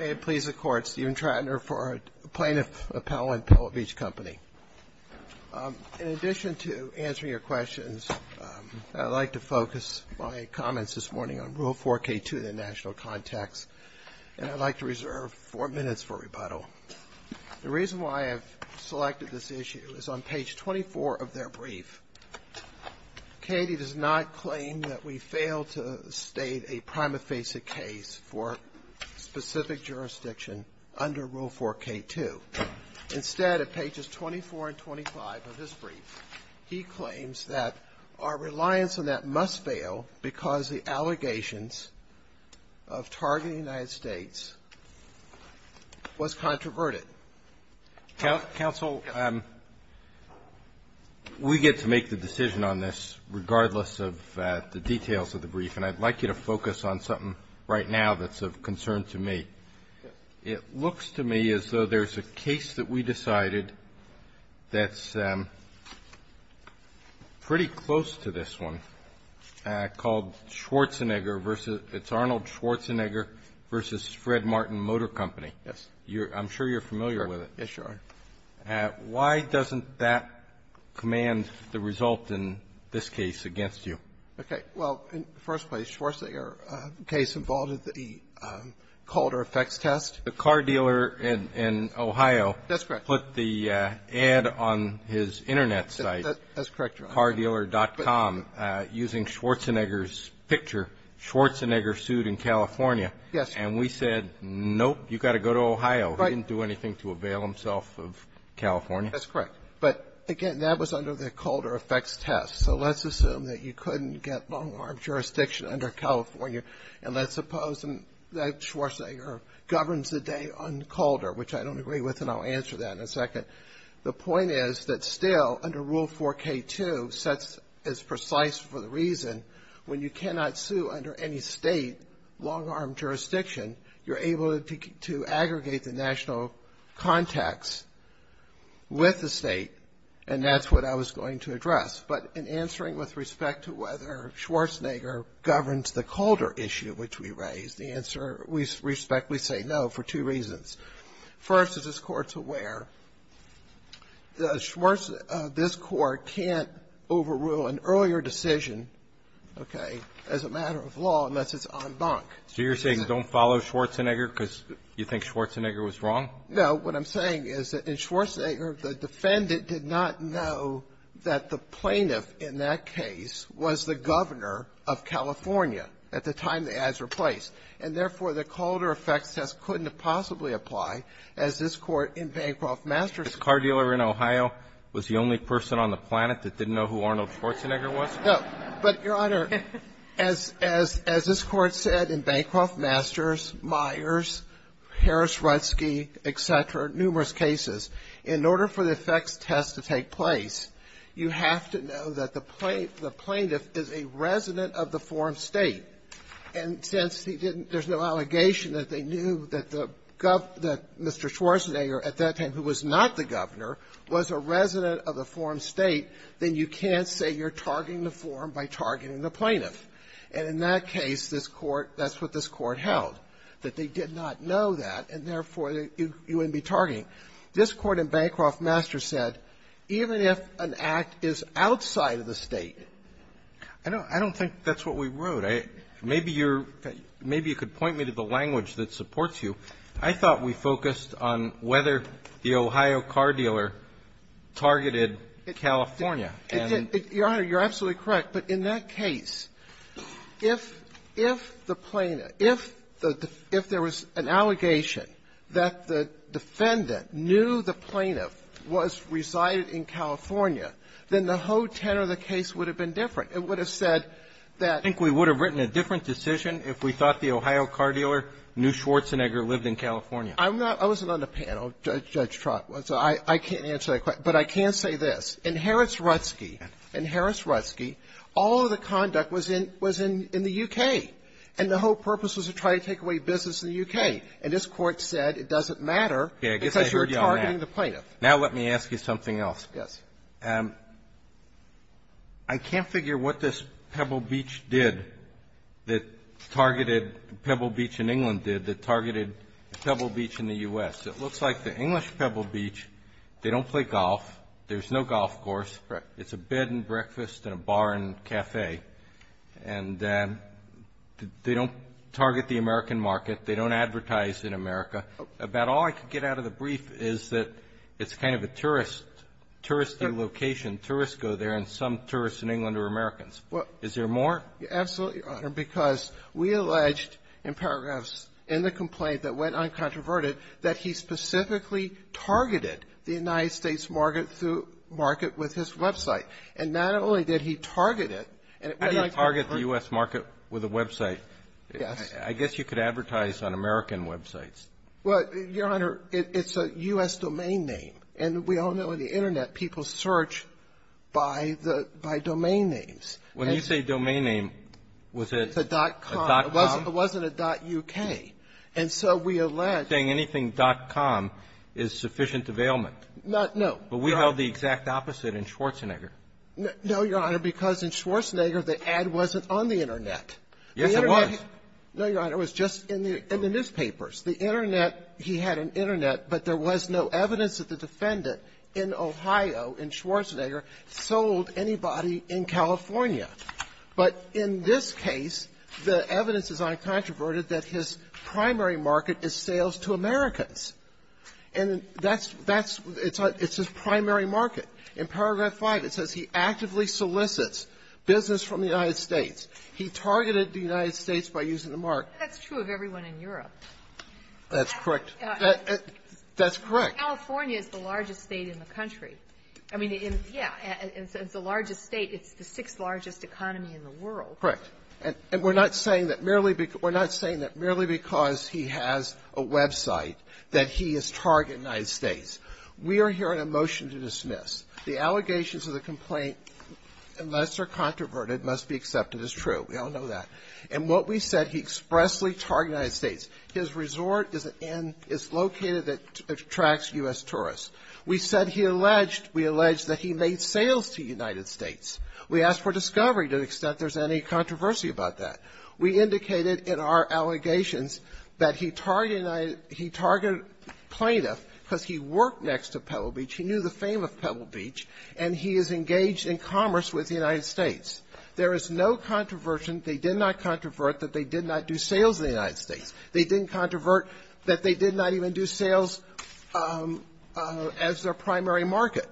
In addition to answering your questions, I'd like to focus my comments this morning on Rule 4K2 of the National Contacts, and I'd like to reserve four minutes for rebuttal. The reason why I've selected this issue is on page 24 of their brief. Caddy does not claim that we failed to state a prima facie case for specific jurisdiction under Rule 4K2. Instead, at pages 24 and 25 of his brief, he claims that our reliance on that must fail because the allegations of targeting the United States was controverted. Counsel, we get to make the decision on this regardless of the details of the brief, and I'd like you to focus on something right now that's of concern to me. It looks to me as though there's a case that we decided that's pretty close to this one called Schwarzenegger v. It's Arnold Schwarzenegger v. Fred Martin Motor Company. Yes. I'm sure you're familiar with it. Yes, Your Honor. Why doesn't that command the result in this case against you? Okay. Well, in the first place, Schwarzenegger case involved the Calder effects test. The car dealer in Ohio put the ad on his Internet site. That's correct, Your Honor. Cardealer.com using Schwarzenegger's picture. Schwarzenegger sued in California. Yes. And we said, nope, you've got to go to Ohio. Right. He didn't do anything to avail himself of California. That's correct. But, again, that was under the Calder effects test. So let's assume that you couldn't get long-arm jurisdiction under California, and let's suppose that Schwarzenegger governs the day on Calder, which I don't agree with, and I'll answer that in a second. The point is that still under Rule 4K2 sets as precise for the reason when you cannot sue under any State long-arm jurisdiction, you're able to aggregate the national contacts with the State, and that's what I was going to address. But in answering with respect to whether Schwarzenegger governs the Calder issue, which we raised, the answer we respectfully say no for two reasons. First, as this Court's aware, this Court can't overrule an earlier decision, okay, as a matter of law, unless it's en banc. So you're saying don't follow Schwarzenegger because you think Schwarzenegger was wrong? No. What I'm saying is that in Schwarzenegger, the defendant did not know that the plaintiff in that case was the governor of California at the time the ads were placed. And, therefore, the Calder effects test couldn't have possibly applied as this Court in Bancroft Masterson. This car dealer in Ohio was the only person on the planet that didn't know who Arnold Schwarzenegger was? No. But, Your Honor, as this Court said in Bancroft Masters, Myers, Harris-Rudsky, et cetera, numerous cases, in order for the effects test to take place, you have to know that the plaintiff is a resident of the form State. And since he didn't – there's no allegation that they knew that the – that Mr. Schwarzenegger at that time, who was not the governor, was a resident of the form State, then you can't say you're targeting the form by targeting the plaintiff. And in that case, this Court – that's what this Court held, that they did not know that, and, therefore, you wouldn't be targeting. This Court in Bancroft Masters said, even if an act is outside of the State – I don't – I don't think that's what we wrote. Maybe you're – maybe you could point me to the language that supports you. I thought we focused on whether the Ohio car dealer targeted California, and – Your Honor, you're absolutely correct. But in that case, if – if the plaintiff – if the – if there was an allegation that the defendant knew the plaintiff was – resided in California, then the whole tenor of the case would have been different. It would have said that – I think we would have written a different decision if we thought the Ohio car dealer knew Schwarzenegger lived in California. I'm not – I wasn't on the panel, Judge Trotman, so I can't answer that question. But I can say this. In Harris-Rutzke, in Harris-Rutzke, all of the conduct was in – was in the U.K., and the whole purpose was to try to take away business in the U.K. And this Court said it doesn't matter because you're targeting the plaintiff. Now let me ask you something else. Yes. I can't figure what this Pebble Beach did that targeted – Pebble Beach in England did that targeted Pebble Beach in the U.S. It looks like the English Pebble Beach, they don't play golf. There's no golf course. Correct. It's a bed and breakfast and a bar and cafe. And they don't target the American market. They don't advertise in America. About all I could get out of the brief is that it's kind of a tourist – tourist location. Tourists go there, and some tourists in England are Americans. Is there more? Absolutely, Your Honor, because we alleged in paragraphs in the complaint that went uncontroverted that he specifically targeted the United States market through – market with his website. And not only did he target it, and it went uncontroverted – How do you target the U.S. market with a website? Yes. I guess you could advertise on American websites. Well, Your Honor, it's a U.S. domain name. And we all know on the Internet, people search by the – by domain names. When you say domain name, was it a .com? It wasn't a .uk. And so we alleged – Saying anything .com is sufficient availment. Not – no. But we held the exact opposite in Schwarzenegger. No, Your Honor, because in Schwarzenegger, the ad wasn't on the Internet. Yes, it was. No, Your Honor, it was just in the – in the newspapers. The Internet – he had an Internet, but there was no evidence that the defendant in Ohio, in Schwarzenegger, sold anybody in California. But in this case, the evidence is uncontroverted that his primary market is sales to Americans. And that's – that's – it's his primary market. In Paragraph 5, it says he actively solicits business from the United States. He targeted the United States by using the market. That's true of everyone in Europe. That's correct. That's correct. But California is the largest state in the country. I mean, in – yeah, it's the largest state. It's the sixth largest economy in the world. Correct. And we're not saying that merely – we're not saying that merely because he has a website that he has targeted the United States. We are hearing a motion to dismiss. The allegations of the complaint, unless they're controverted, must be accepted as true. And what we said, he expressly targeted the United States. His resort is in – is located at – attracts U.S. tourists. We said he alleged – we alleged that he made sales to the United States. We asked for discovery to the extent there's any controversy about that. We indicated in our allegations that he targeted United – he targeted plaintiff because he worked next to Pebble Beach. He knew the fame of Pebble Beach. And he is engaged in commerce with the United States. There is no controversy. They did not controvert that they did not do sales in the United States. They didn't controvert that they did not even do sales as their primary market.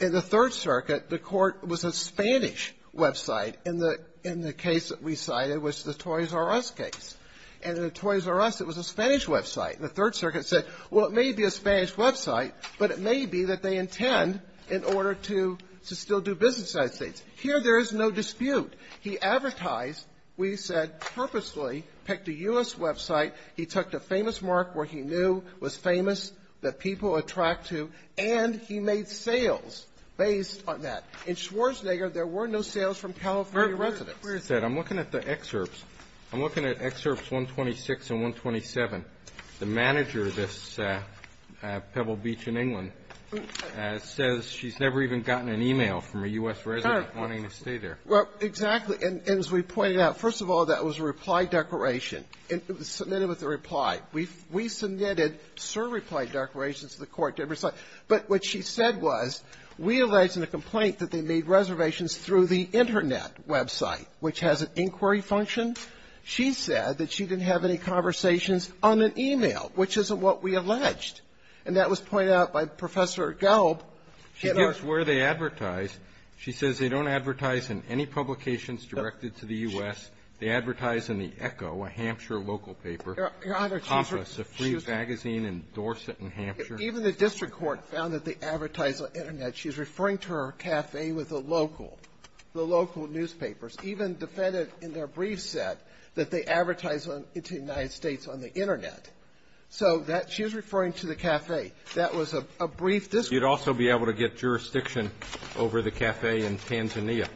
In the Third Circuit, the court was a Spanish website. And the – and the case that we cited was the Torres Arras case. And in the Torres Arras, it was a Spanish website. And the Third Circuit said, well, it may be a Spanish website, but it may be that they intend in order to still do business in the United States. Here, there is no dispute. He advertised, we said, purposely picked a U.S. website. He took the famous mark where he knew was famous, that people attract to, and he made sales based on that. In Schwarzenegger, there were no sales from California residents. Where is that? I'm looking at the excerpts. I'm looking at Excerpts 126 and 127. The manager of this Pebble Beach in England says she's never even gotten an email from a U.S. resident wanting to stay there. Well, exactly. And as we pointed out, first of all, that was a reply declaration. It was submitted with a reply. We – we submitted certain reply declarations to the court to every site. But what she said was, we allege in the complaint that they made reservations through the Internet website, which has an inquiry function. She said that she didn't have any conversations on an email, which isn't what we alleged. And that was pointed out by Professor Galb. She gives where they advertise. She says they don't advertise in any publications directed to the U.S. They advertise in the Echo, a Hampshire local paper. Your Honor, she's – Compass, a free magazine in Dorset, in Hampshire. Even the district court found that they advertise on Internet. She's referring to her cafe with the local – the local newspapers, even defended in their brief set that they advertise in the United States on the Internet. That was a brief district court report. You'd also be able to get jurisdiction over the cafe in Tanzania.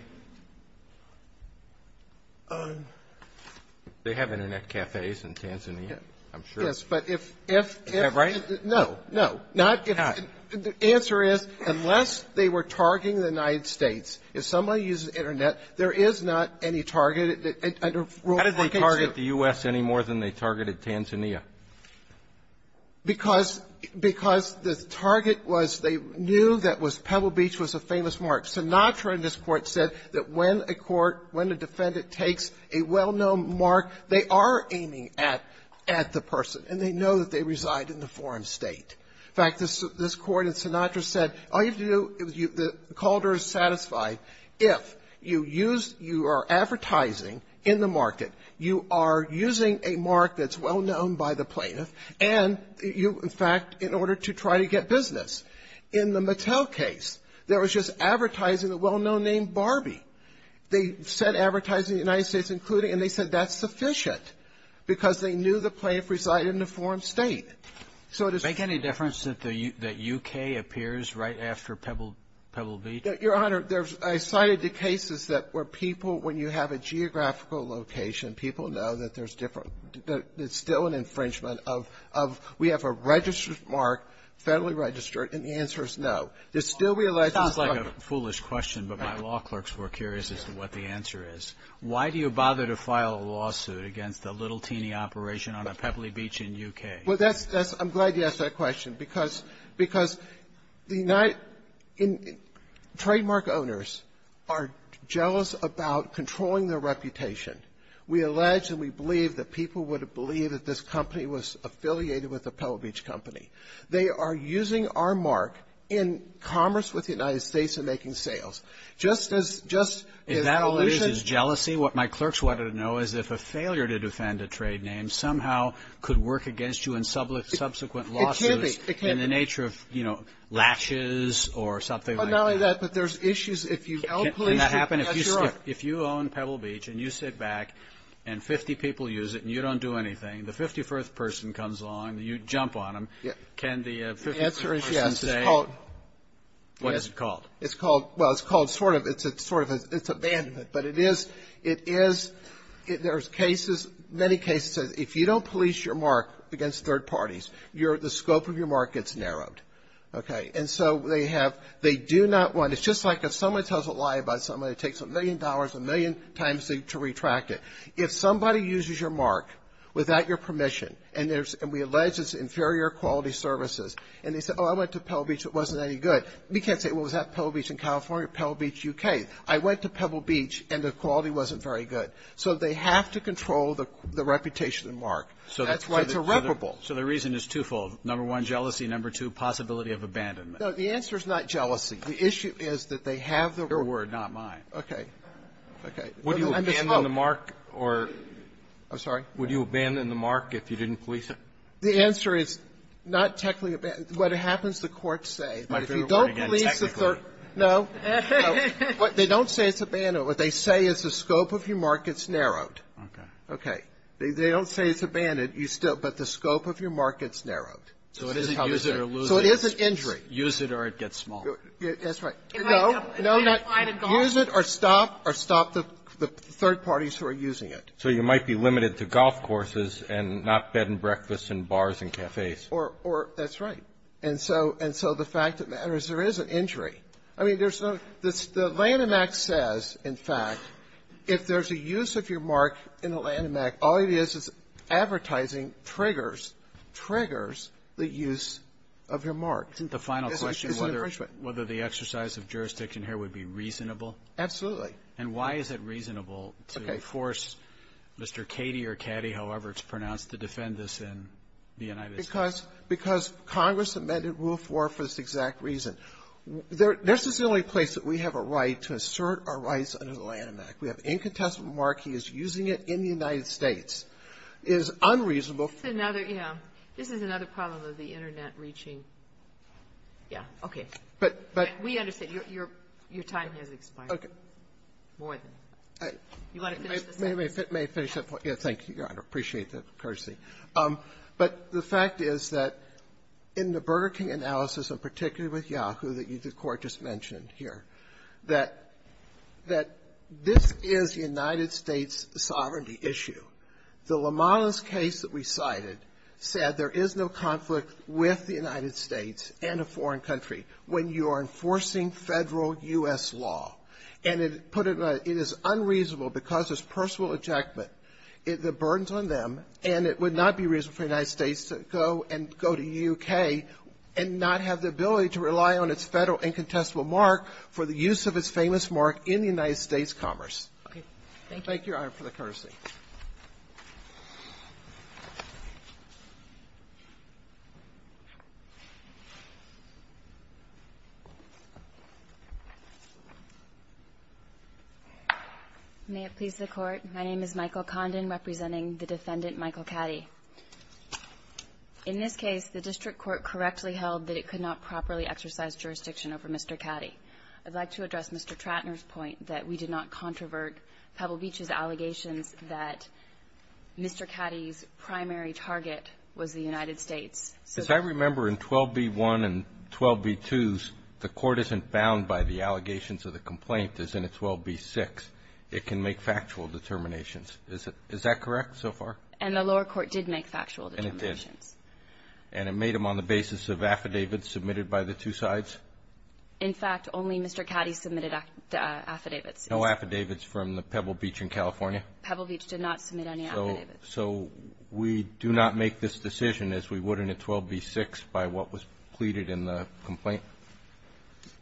They have Internet cafes in Tanzania, I'm sure. Yes. But if – if – Is that right? No. No. Not if – the answer is, unless they were targeting the United States, if somebody uses Internet, there is not any target that – under Rule 142. How did they target the U.S. any more than they targeted Tanzania? Because – because the target was they knew that was – Pebble Beach was a famous mark. Sinatra in this Court said that when a court – when a defendant takes a well-known mark, they are aiming at – at the person, and they know that they reside in the foreign State. In fact, this – this Court in Sinatra said, all you have to do – Calder is satisfied if you use – you are advertising in the market, you are using a mark that's well-known by the plaintiff, and you – in fact, in order to try to get business. In the Mattel case, there was just advertising a well-known name, Barbie. They said advertising the United States included, and they said that's sufficient because they knew the plaintiff resided in the foreign State. So it is – Does it make any difference that the – that U.K. appears right after Pebble – Pebble Beach? Your Honor, there's – I cited the cases that where people, when you have a geographical location, people know that there's different – that it's still an infringement of – of we have a registered mark, federally registered, and the answer is no. They still realize it's – It sounds like a foolish question, but my law clerks were curious as to what the answer is. Why do you bother to file a lawsuit against a little teeny operation on a Pebble Beach in U.K.? Well, that's – that's – I'm glad you asked that question because – because the – trademark owners are jealous about controlling their reputation. We allege and we believe that people would have believed that this company was affiliated with a Pebble Beach company. They are using our mark in commerce with the United States and making sales. Just as – just as solutions – Is that all it is, is jealousy? What my clerks wanted to know is if a failure to defend a trade name somehow could work against you in subsequent lawsuits in the nature of, you know, latching or something like that. Well, not only that, but there's issues if you out-police people. Can that happen if you – if you own Pebble Beach and you sit back and 50 people use it and you don't do anything, the 51st person comes along and you jump on them, can the 51st person say – The answer is yes. It's called – What is it called? It's called – well, it's called sort of – it's a sort of – it's a ban, but it is – it is – there's cases, many cases, if you don't police your mark against third parties, you're – the scope of your mark gets narrowed, okay? And so they have – they do not want – it's just like if someone tells a lie about somebody, it takes a million dollars, a million times to retract it. If somebody uses your mark without your permission and there's – and we allege it's inferior quality services, and they say, oh, I went to Pebble Beach, it wasn't any good, we can't say, well, was that Pebble Beach in California or Pebble Beach, UK? I went to Pebble Beach and the quality wasn't very good. So they have to control the reputation and mark. So that's why it's irreparable. So the reason is twofold. Number one, jealousy. Number two, possibility of abandonment. No. The answer is not jealousy. The issue is that they have the – Your word, not mine. Okay. Okay. Would you abandon the mark or – I'm sorry? Would you abandon the mark if you didn't police it? The answer is not technically – what happens, the courts say. My favorite word again, technically. No. They don't say it's abandoned. What they say is the scope of your mark gets narrowed. Okay. Okay. They don't say it's abandoned, you still – but the scope of your mark gets narrowed. So it is an injury. Use it or it gets small. That's right. No, no, not – use it or stop or stop the third parties who are using it. So you might be limited to golf courses and not bed and breakfast and bars and cafes. Or – that's right. And so – and so the fact of the matter is there is an injury. I mean, there's no – the Lanham Act says, in fact, if there's a use of your mark in the Lanham Act, all it is is advertising triggers – triggers the use of your mark. Isn't the final question whether the exercise of jurisdiction here would be reasonable? Absolutely. And why is it reasonable to force Mr. Cady or Caddy, however it's pronounced, to defend this in the United States? Because – because Congress amended Rule 4 for this exact reason. This is the only place that we have a right to assert our rights under the Lanham Act. We have incontestable mark. He is using it in the United States. It is unreasonable. It's another – yeah. This is another problem of the Internet reaching – yeah. Okay. But – but – We understand. Your – your time has expired. Okay. More than – you want to finish this up? May I finish that point? Yeah, thank you, Your Honor. I appreciate the courtesy. But the fact is that in the Burger King analysis, and particularly with Yahoo, that you – the Court just mentioned here, that – that this is the United States' sovereignty issue. The Lamanas case that we cited said there is no conflict with the United States and a foreign country when you are enforcing Federal U.S. law. And it put it in a – it is unreasonable because it's personal ejectment. The burden's on them, and it would not be reasonable for the United States to go and not have the ability to rely on its Federal incontestable mark for the use of its famous mark in the United States commerce. Okay. Thank you. Thank you, Your Honor, for the courtesy. May it please the Court. My name is Michael Condon, representing the Defendant Michael Caddy. In this case, the district court correctly held that it could not properly exercise jurisdiction over Mr. Caddy. I'd like to address Mr. Trattner's point that we did not controvert Pebble Beach's allegations that Mr. Caddy's primary target was the United States. As I remember, in 12b-1 and 12b-2s, the Court isn't bound by the allegations of the complaint as in a 12b-6. It can make factual determinations. Is that correct so far? And the lower court did make factual determinations. And it did. And it made them on the basis of affidavits submitted by the two sides? In fact, only Mr. Caddy submitted affidavits. No affidavits from the Pebble Beach in California? Pebble Beach did not submit any affidavits. So we do not make this decision as we would in a 12b-6 by what was pleaded in the complaint?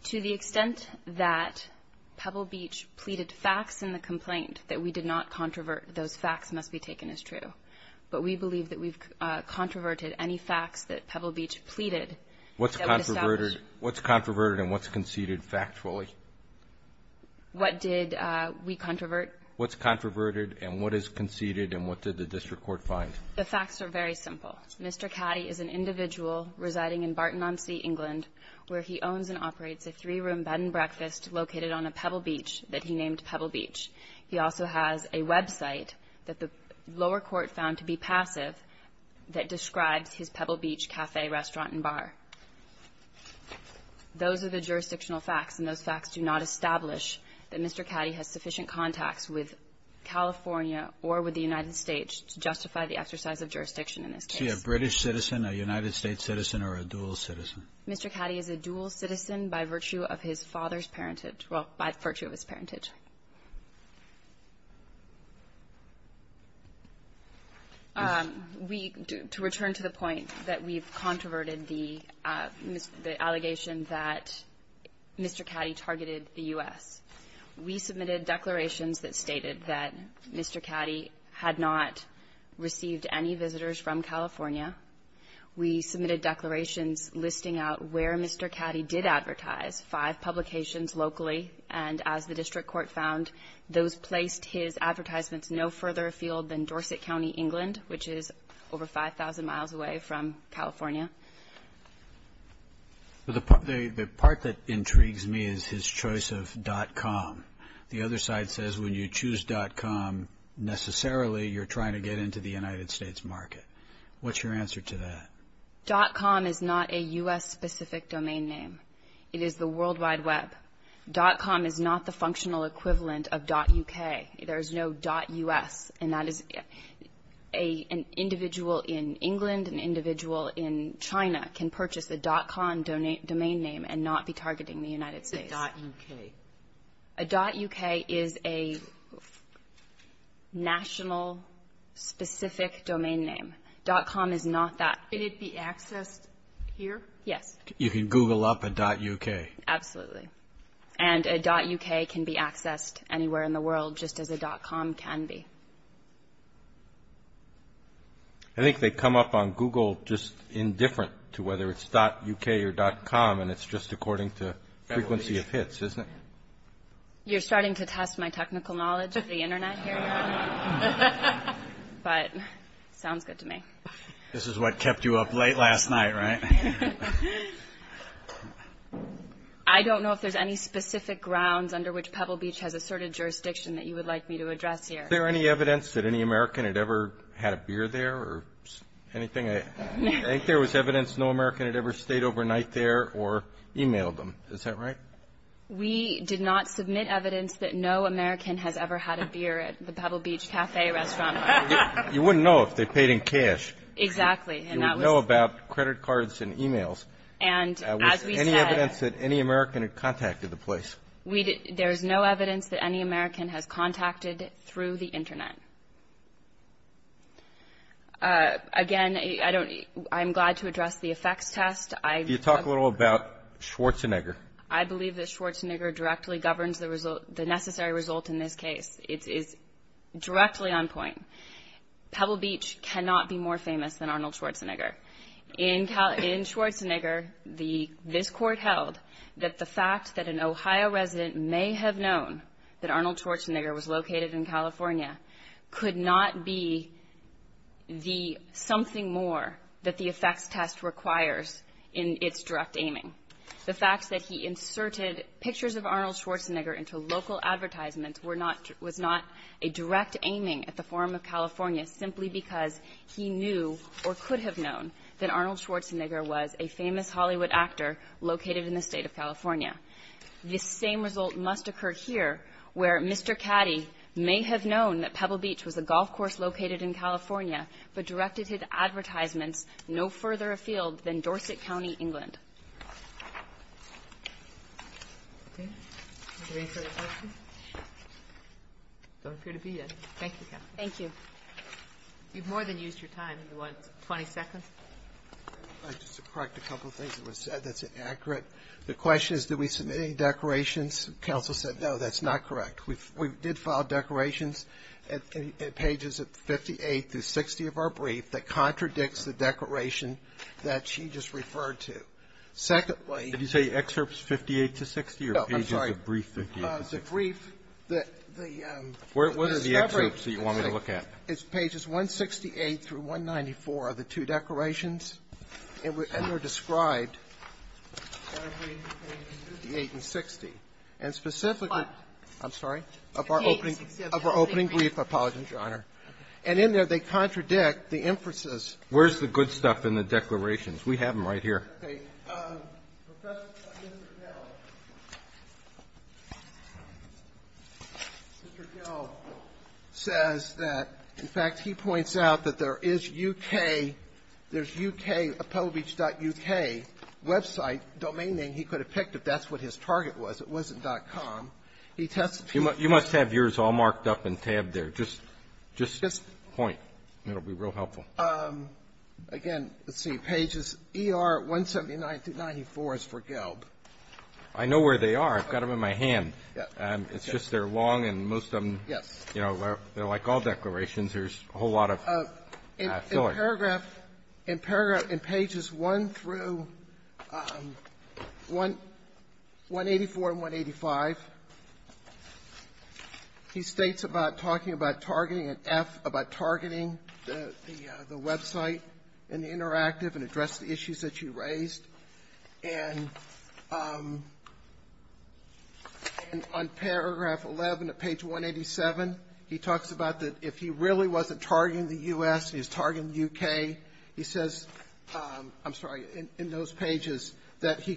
To the extent that Pebble Beach pleaded facts in the complaint that we did not controvert, those facts must be taken as true. But we believe that we've controverted any facts that Pebble Beach pleaded. What's controverted and what's conceded factually? What did we controvert? What's controverted and what is conceded and what did the District Court find? The facts are very simple. Mr. Caddy is an individual residing in Barton-on-Sea, England, where he owns and operates a three-room bed and breakfast located on a Pebble Beach that he named Pebble Beach. He also has a website that the lower court found to be passive that describes his Pebble Beach Cafe, Restaurant and Bar. Those are the jurisdictional facts, and those facts do not establish that Mr. Caddy has sufficient contacts with California or with the United States to justify the exercise of jurisdiction in this case. Is he a British citizen, a United States citizen, or a dual citizen? Mr. Caddy is a dual citizen by virtue of his father's parenthood. Well, by virtue of his parentage. To return to the point that we've controverted the allegation that Mr. Caddy targeted the U.S., we submitted declarations that stated that Mr. Caddy had not received any visitors from California. We submitted declarations listing out where Mr. Caddy did advertise five publications locally, and as the district court found, those placed his advertisements no further afield than Dorset County, England, which is over 5,000 miles away from California. The part that intrigues me is his choice of .com. The other side says when you choose .com, necessarily you're trying to get into the United States market. What's your answer to that? .com is not a U.S.-specific domain name. It is the World Wide Web. .com is not the functional equivalent of .uk. There's no .us, and that is an individual in England, an individual in China can purchase a .com domain name and not be targeting the United States. A .uk. A .uk is a national-specific domain name. .com is not that. Can it be accessed here? Yes. You can Google up a .uk. Absolutely. And a .uk can be accessed anywhere in the world, just as a .com can be. I think they come up on Google just indifferent to whether it's .uk or .com, and it's just according to frequency of hits, isn't it? You're starting to test my technical knowledge of the Internet here, but sounds good to me. This is what kept you up late last night, right? I don't know if there's any specific grounds under which Pebble Beach has asserted jurisdiction that you would like me to address here. Is there any evidence that any American had ever had a beer there or anything? I think there was evidence no American had ever stayed overnight there or emailed them. Is that right? We did not submit evidence that no American has ever had a beer at the Pebble Beach Cafe restaurant. You wouldn't know if they paid in cash. Exactly. You wouldn't know about credit cards and emails. And as we said. Was there any evidence that any American had contacted the place? There's no evidence that any American has contacted through the Internet. Again, I'm glad to address the effects test. Can you talk a little about Schwarzenegger? I believe that Schwarzenegger directly governs the necessary result in this case. It is directly on point. Pebble Beach cannot be more famous than Arnold Schwarzenegger. In Schwarzenegger, this court held that the fact that an Ohio resident may have known that Arnold Schwarzenegger was located in California could not be the something more that the effects test requires in its direct aiming. The fact that he inserted pictures of Arnold Schwarzenegger into local advertisements was not a direct aiming at the Forum of California simply because he knew or could have known that Arnold Schwarzenegger was a famous Hollywood actor located in the state of California. This same result must occur here where Mr. Caddy may have known that Pebble Beach was a golf course located in California but directed his advertisements no further afield than Pebble Beach. Okay. Are we ready for the questions? Don't appear to be yet. Thank you, counsel. Thank you. You've more than used your time. You want 20 seconds? I'd just like to correct a couple of things that were said that's inaccurate. The question is, did we submit any declarations? Counsel said, no, that's not correct. We did file declarations at pages 58 through 60 of our brief that contradicts the declaration that she just referred to. Secondly — Did you say excerpts 58 to 60 or pages of brief 58 to 60? No, I'm sorry. The brief that the — What are the excerpts that you want me to look at? It's pages 168 through 194 of the two declarations, and they're described 58 and 60. And specifically — What? I'm sorry? Of our opening — of our opening brief. I apologize, Your Honor. And in there, they contradict the inferences. Where's the good stuff in the declarations? We have them right here. Okay. Mr. Gell says that, in fact, he points out that there is UK — there's UK, Appelbeach.UK website, domain name he could have picked if that's what his target was. It wasn't .com. He tested — You must have yours all marked up and tabbed there. Just — just point. It'll be real helpful. Again, let's see. Pages ER 179 through 94 is for Gelb. I know where they are. I've got them in my hand. It's just they're long, and most of them — Yes. You know, they're like all declarations. There's a whole lot of filling. In paragraph — in paragraph — in pages 1 through 184 and 185, he states about talking about targeting an F, about targeting the website and the interactive and address the issues that you raised. And on paragraph 11 of page 187, he talks about that if he really wasn't targeting the U.S., he was targeting the UK, he says — I'm sorry — in those pages that he Are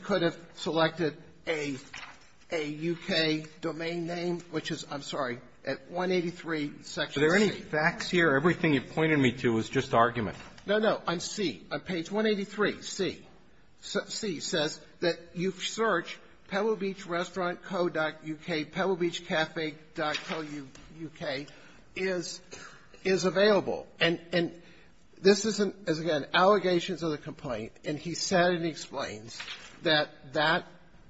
there any facts here? Everything you pointed me to was just argument. No, no. On C, on page 183, C, C says that you search Pebble Beach Restaurant Co. U.K., pebblebeachcafe.co.uk is — is available. And — and this is, again, allegations of the complaint. And he said and explains that that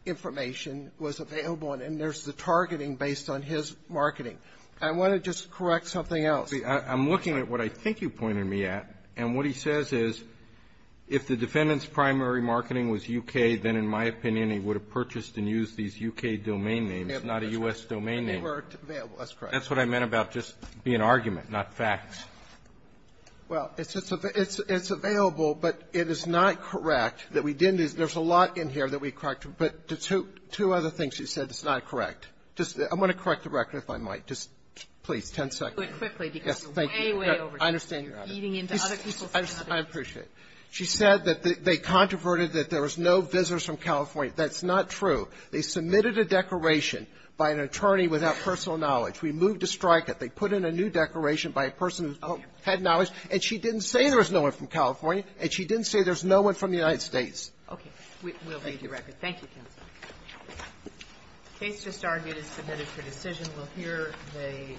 information was available, and there's the targeting based on his marketing. I want to just correct something else. I'm looking at what I think you pointed me at, and what he says is if the defendant's primary marketing was U.K., then in my opinion, he would have purchased and used these U.K. domain names, not a U.S. domain name. That's what I meant about just being argument, not facts. Well, it's just — it's available, but it is not correct that we didn't use — there's a lot in here that we corrected, but two other things you said is not correct. Just — I'm going to correct the record, if I might. Just, please, 10 seconds. Quickly, because you're way, way over time. I understand, Your Honor. You're feeding into other people's conversation. I appreciate it. She said that they controverted that there was no visitors from California. That's not true. They submitted a declaration by an attorney without personal knowledge. We moved to strike it. They put in a new declaration by a person who had knowledge, and she didn't say there was no one from California, and she didn't say there's no one from the United States. Okay. We'll read the record. Thank you, counsel. The case just argued is submitted for decision. We'll hear the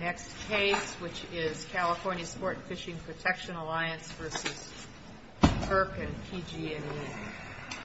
next case, which is California Sport and Fishing Protection Alliance v. Kirk and PG&E.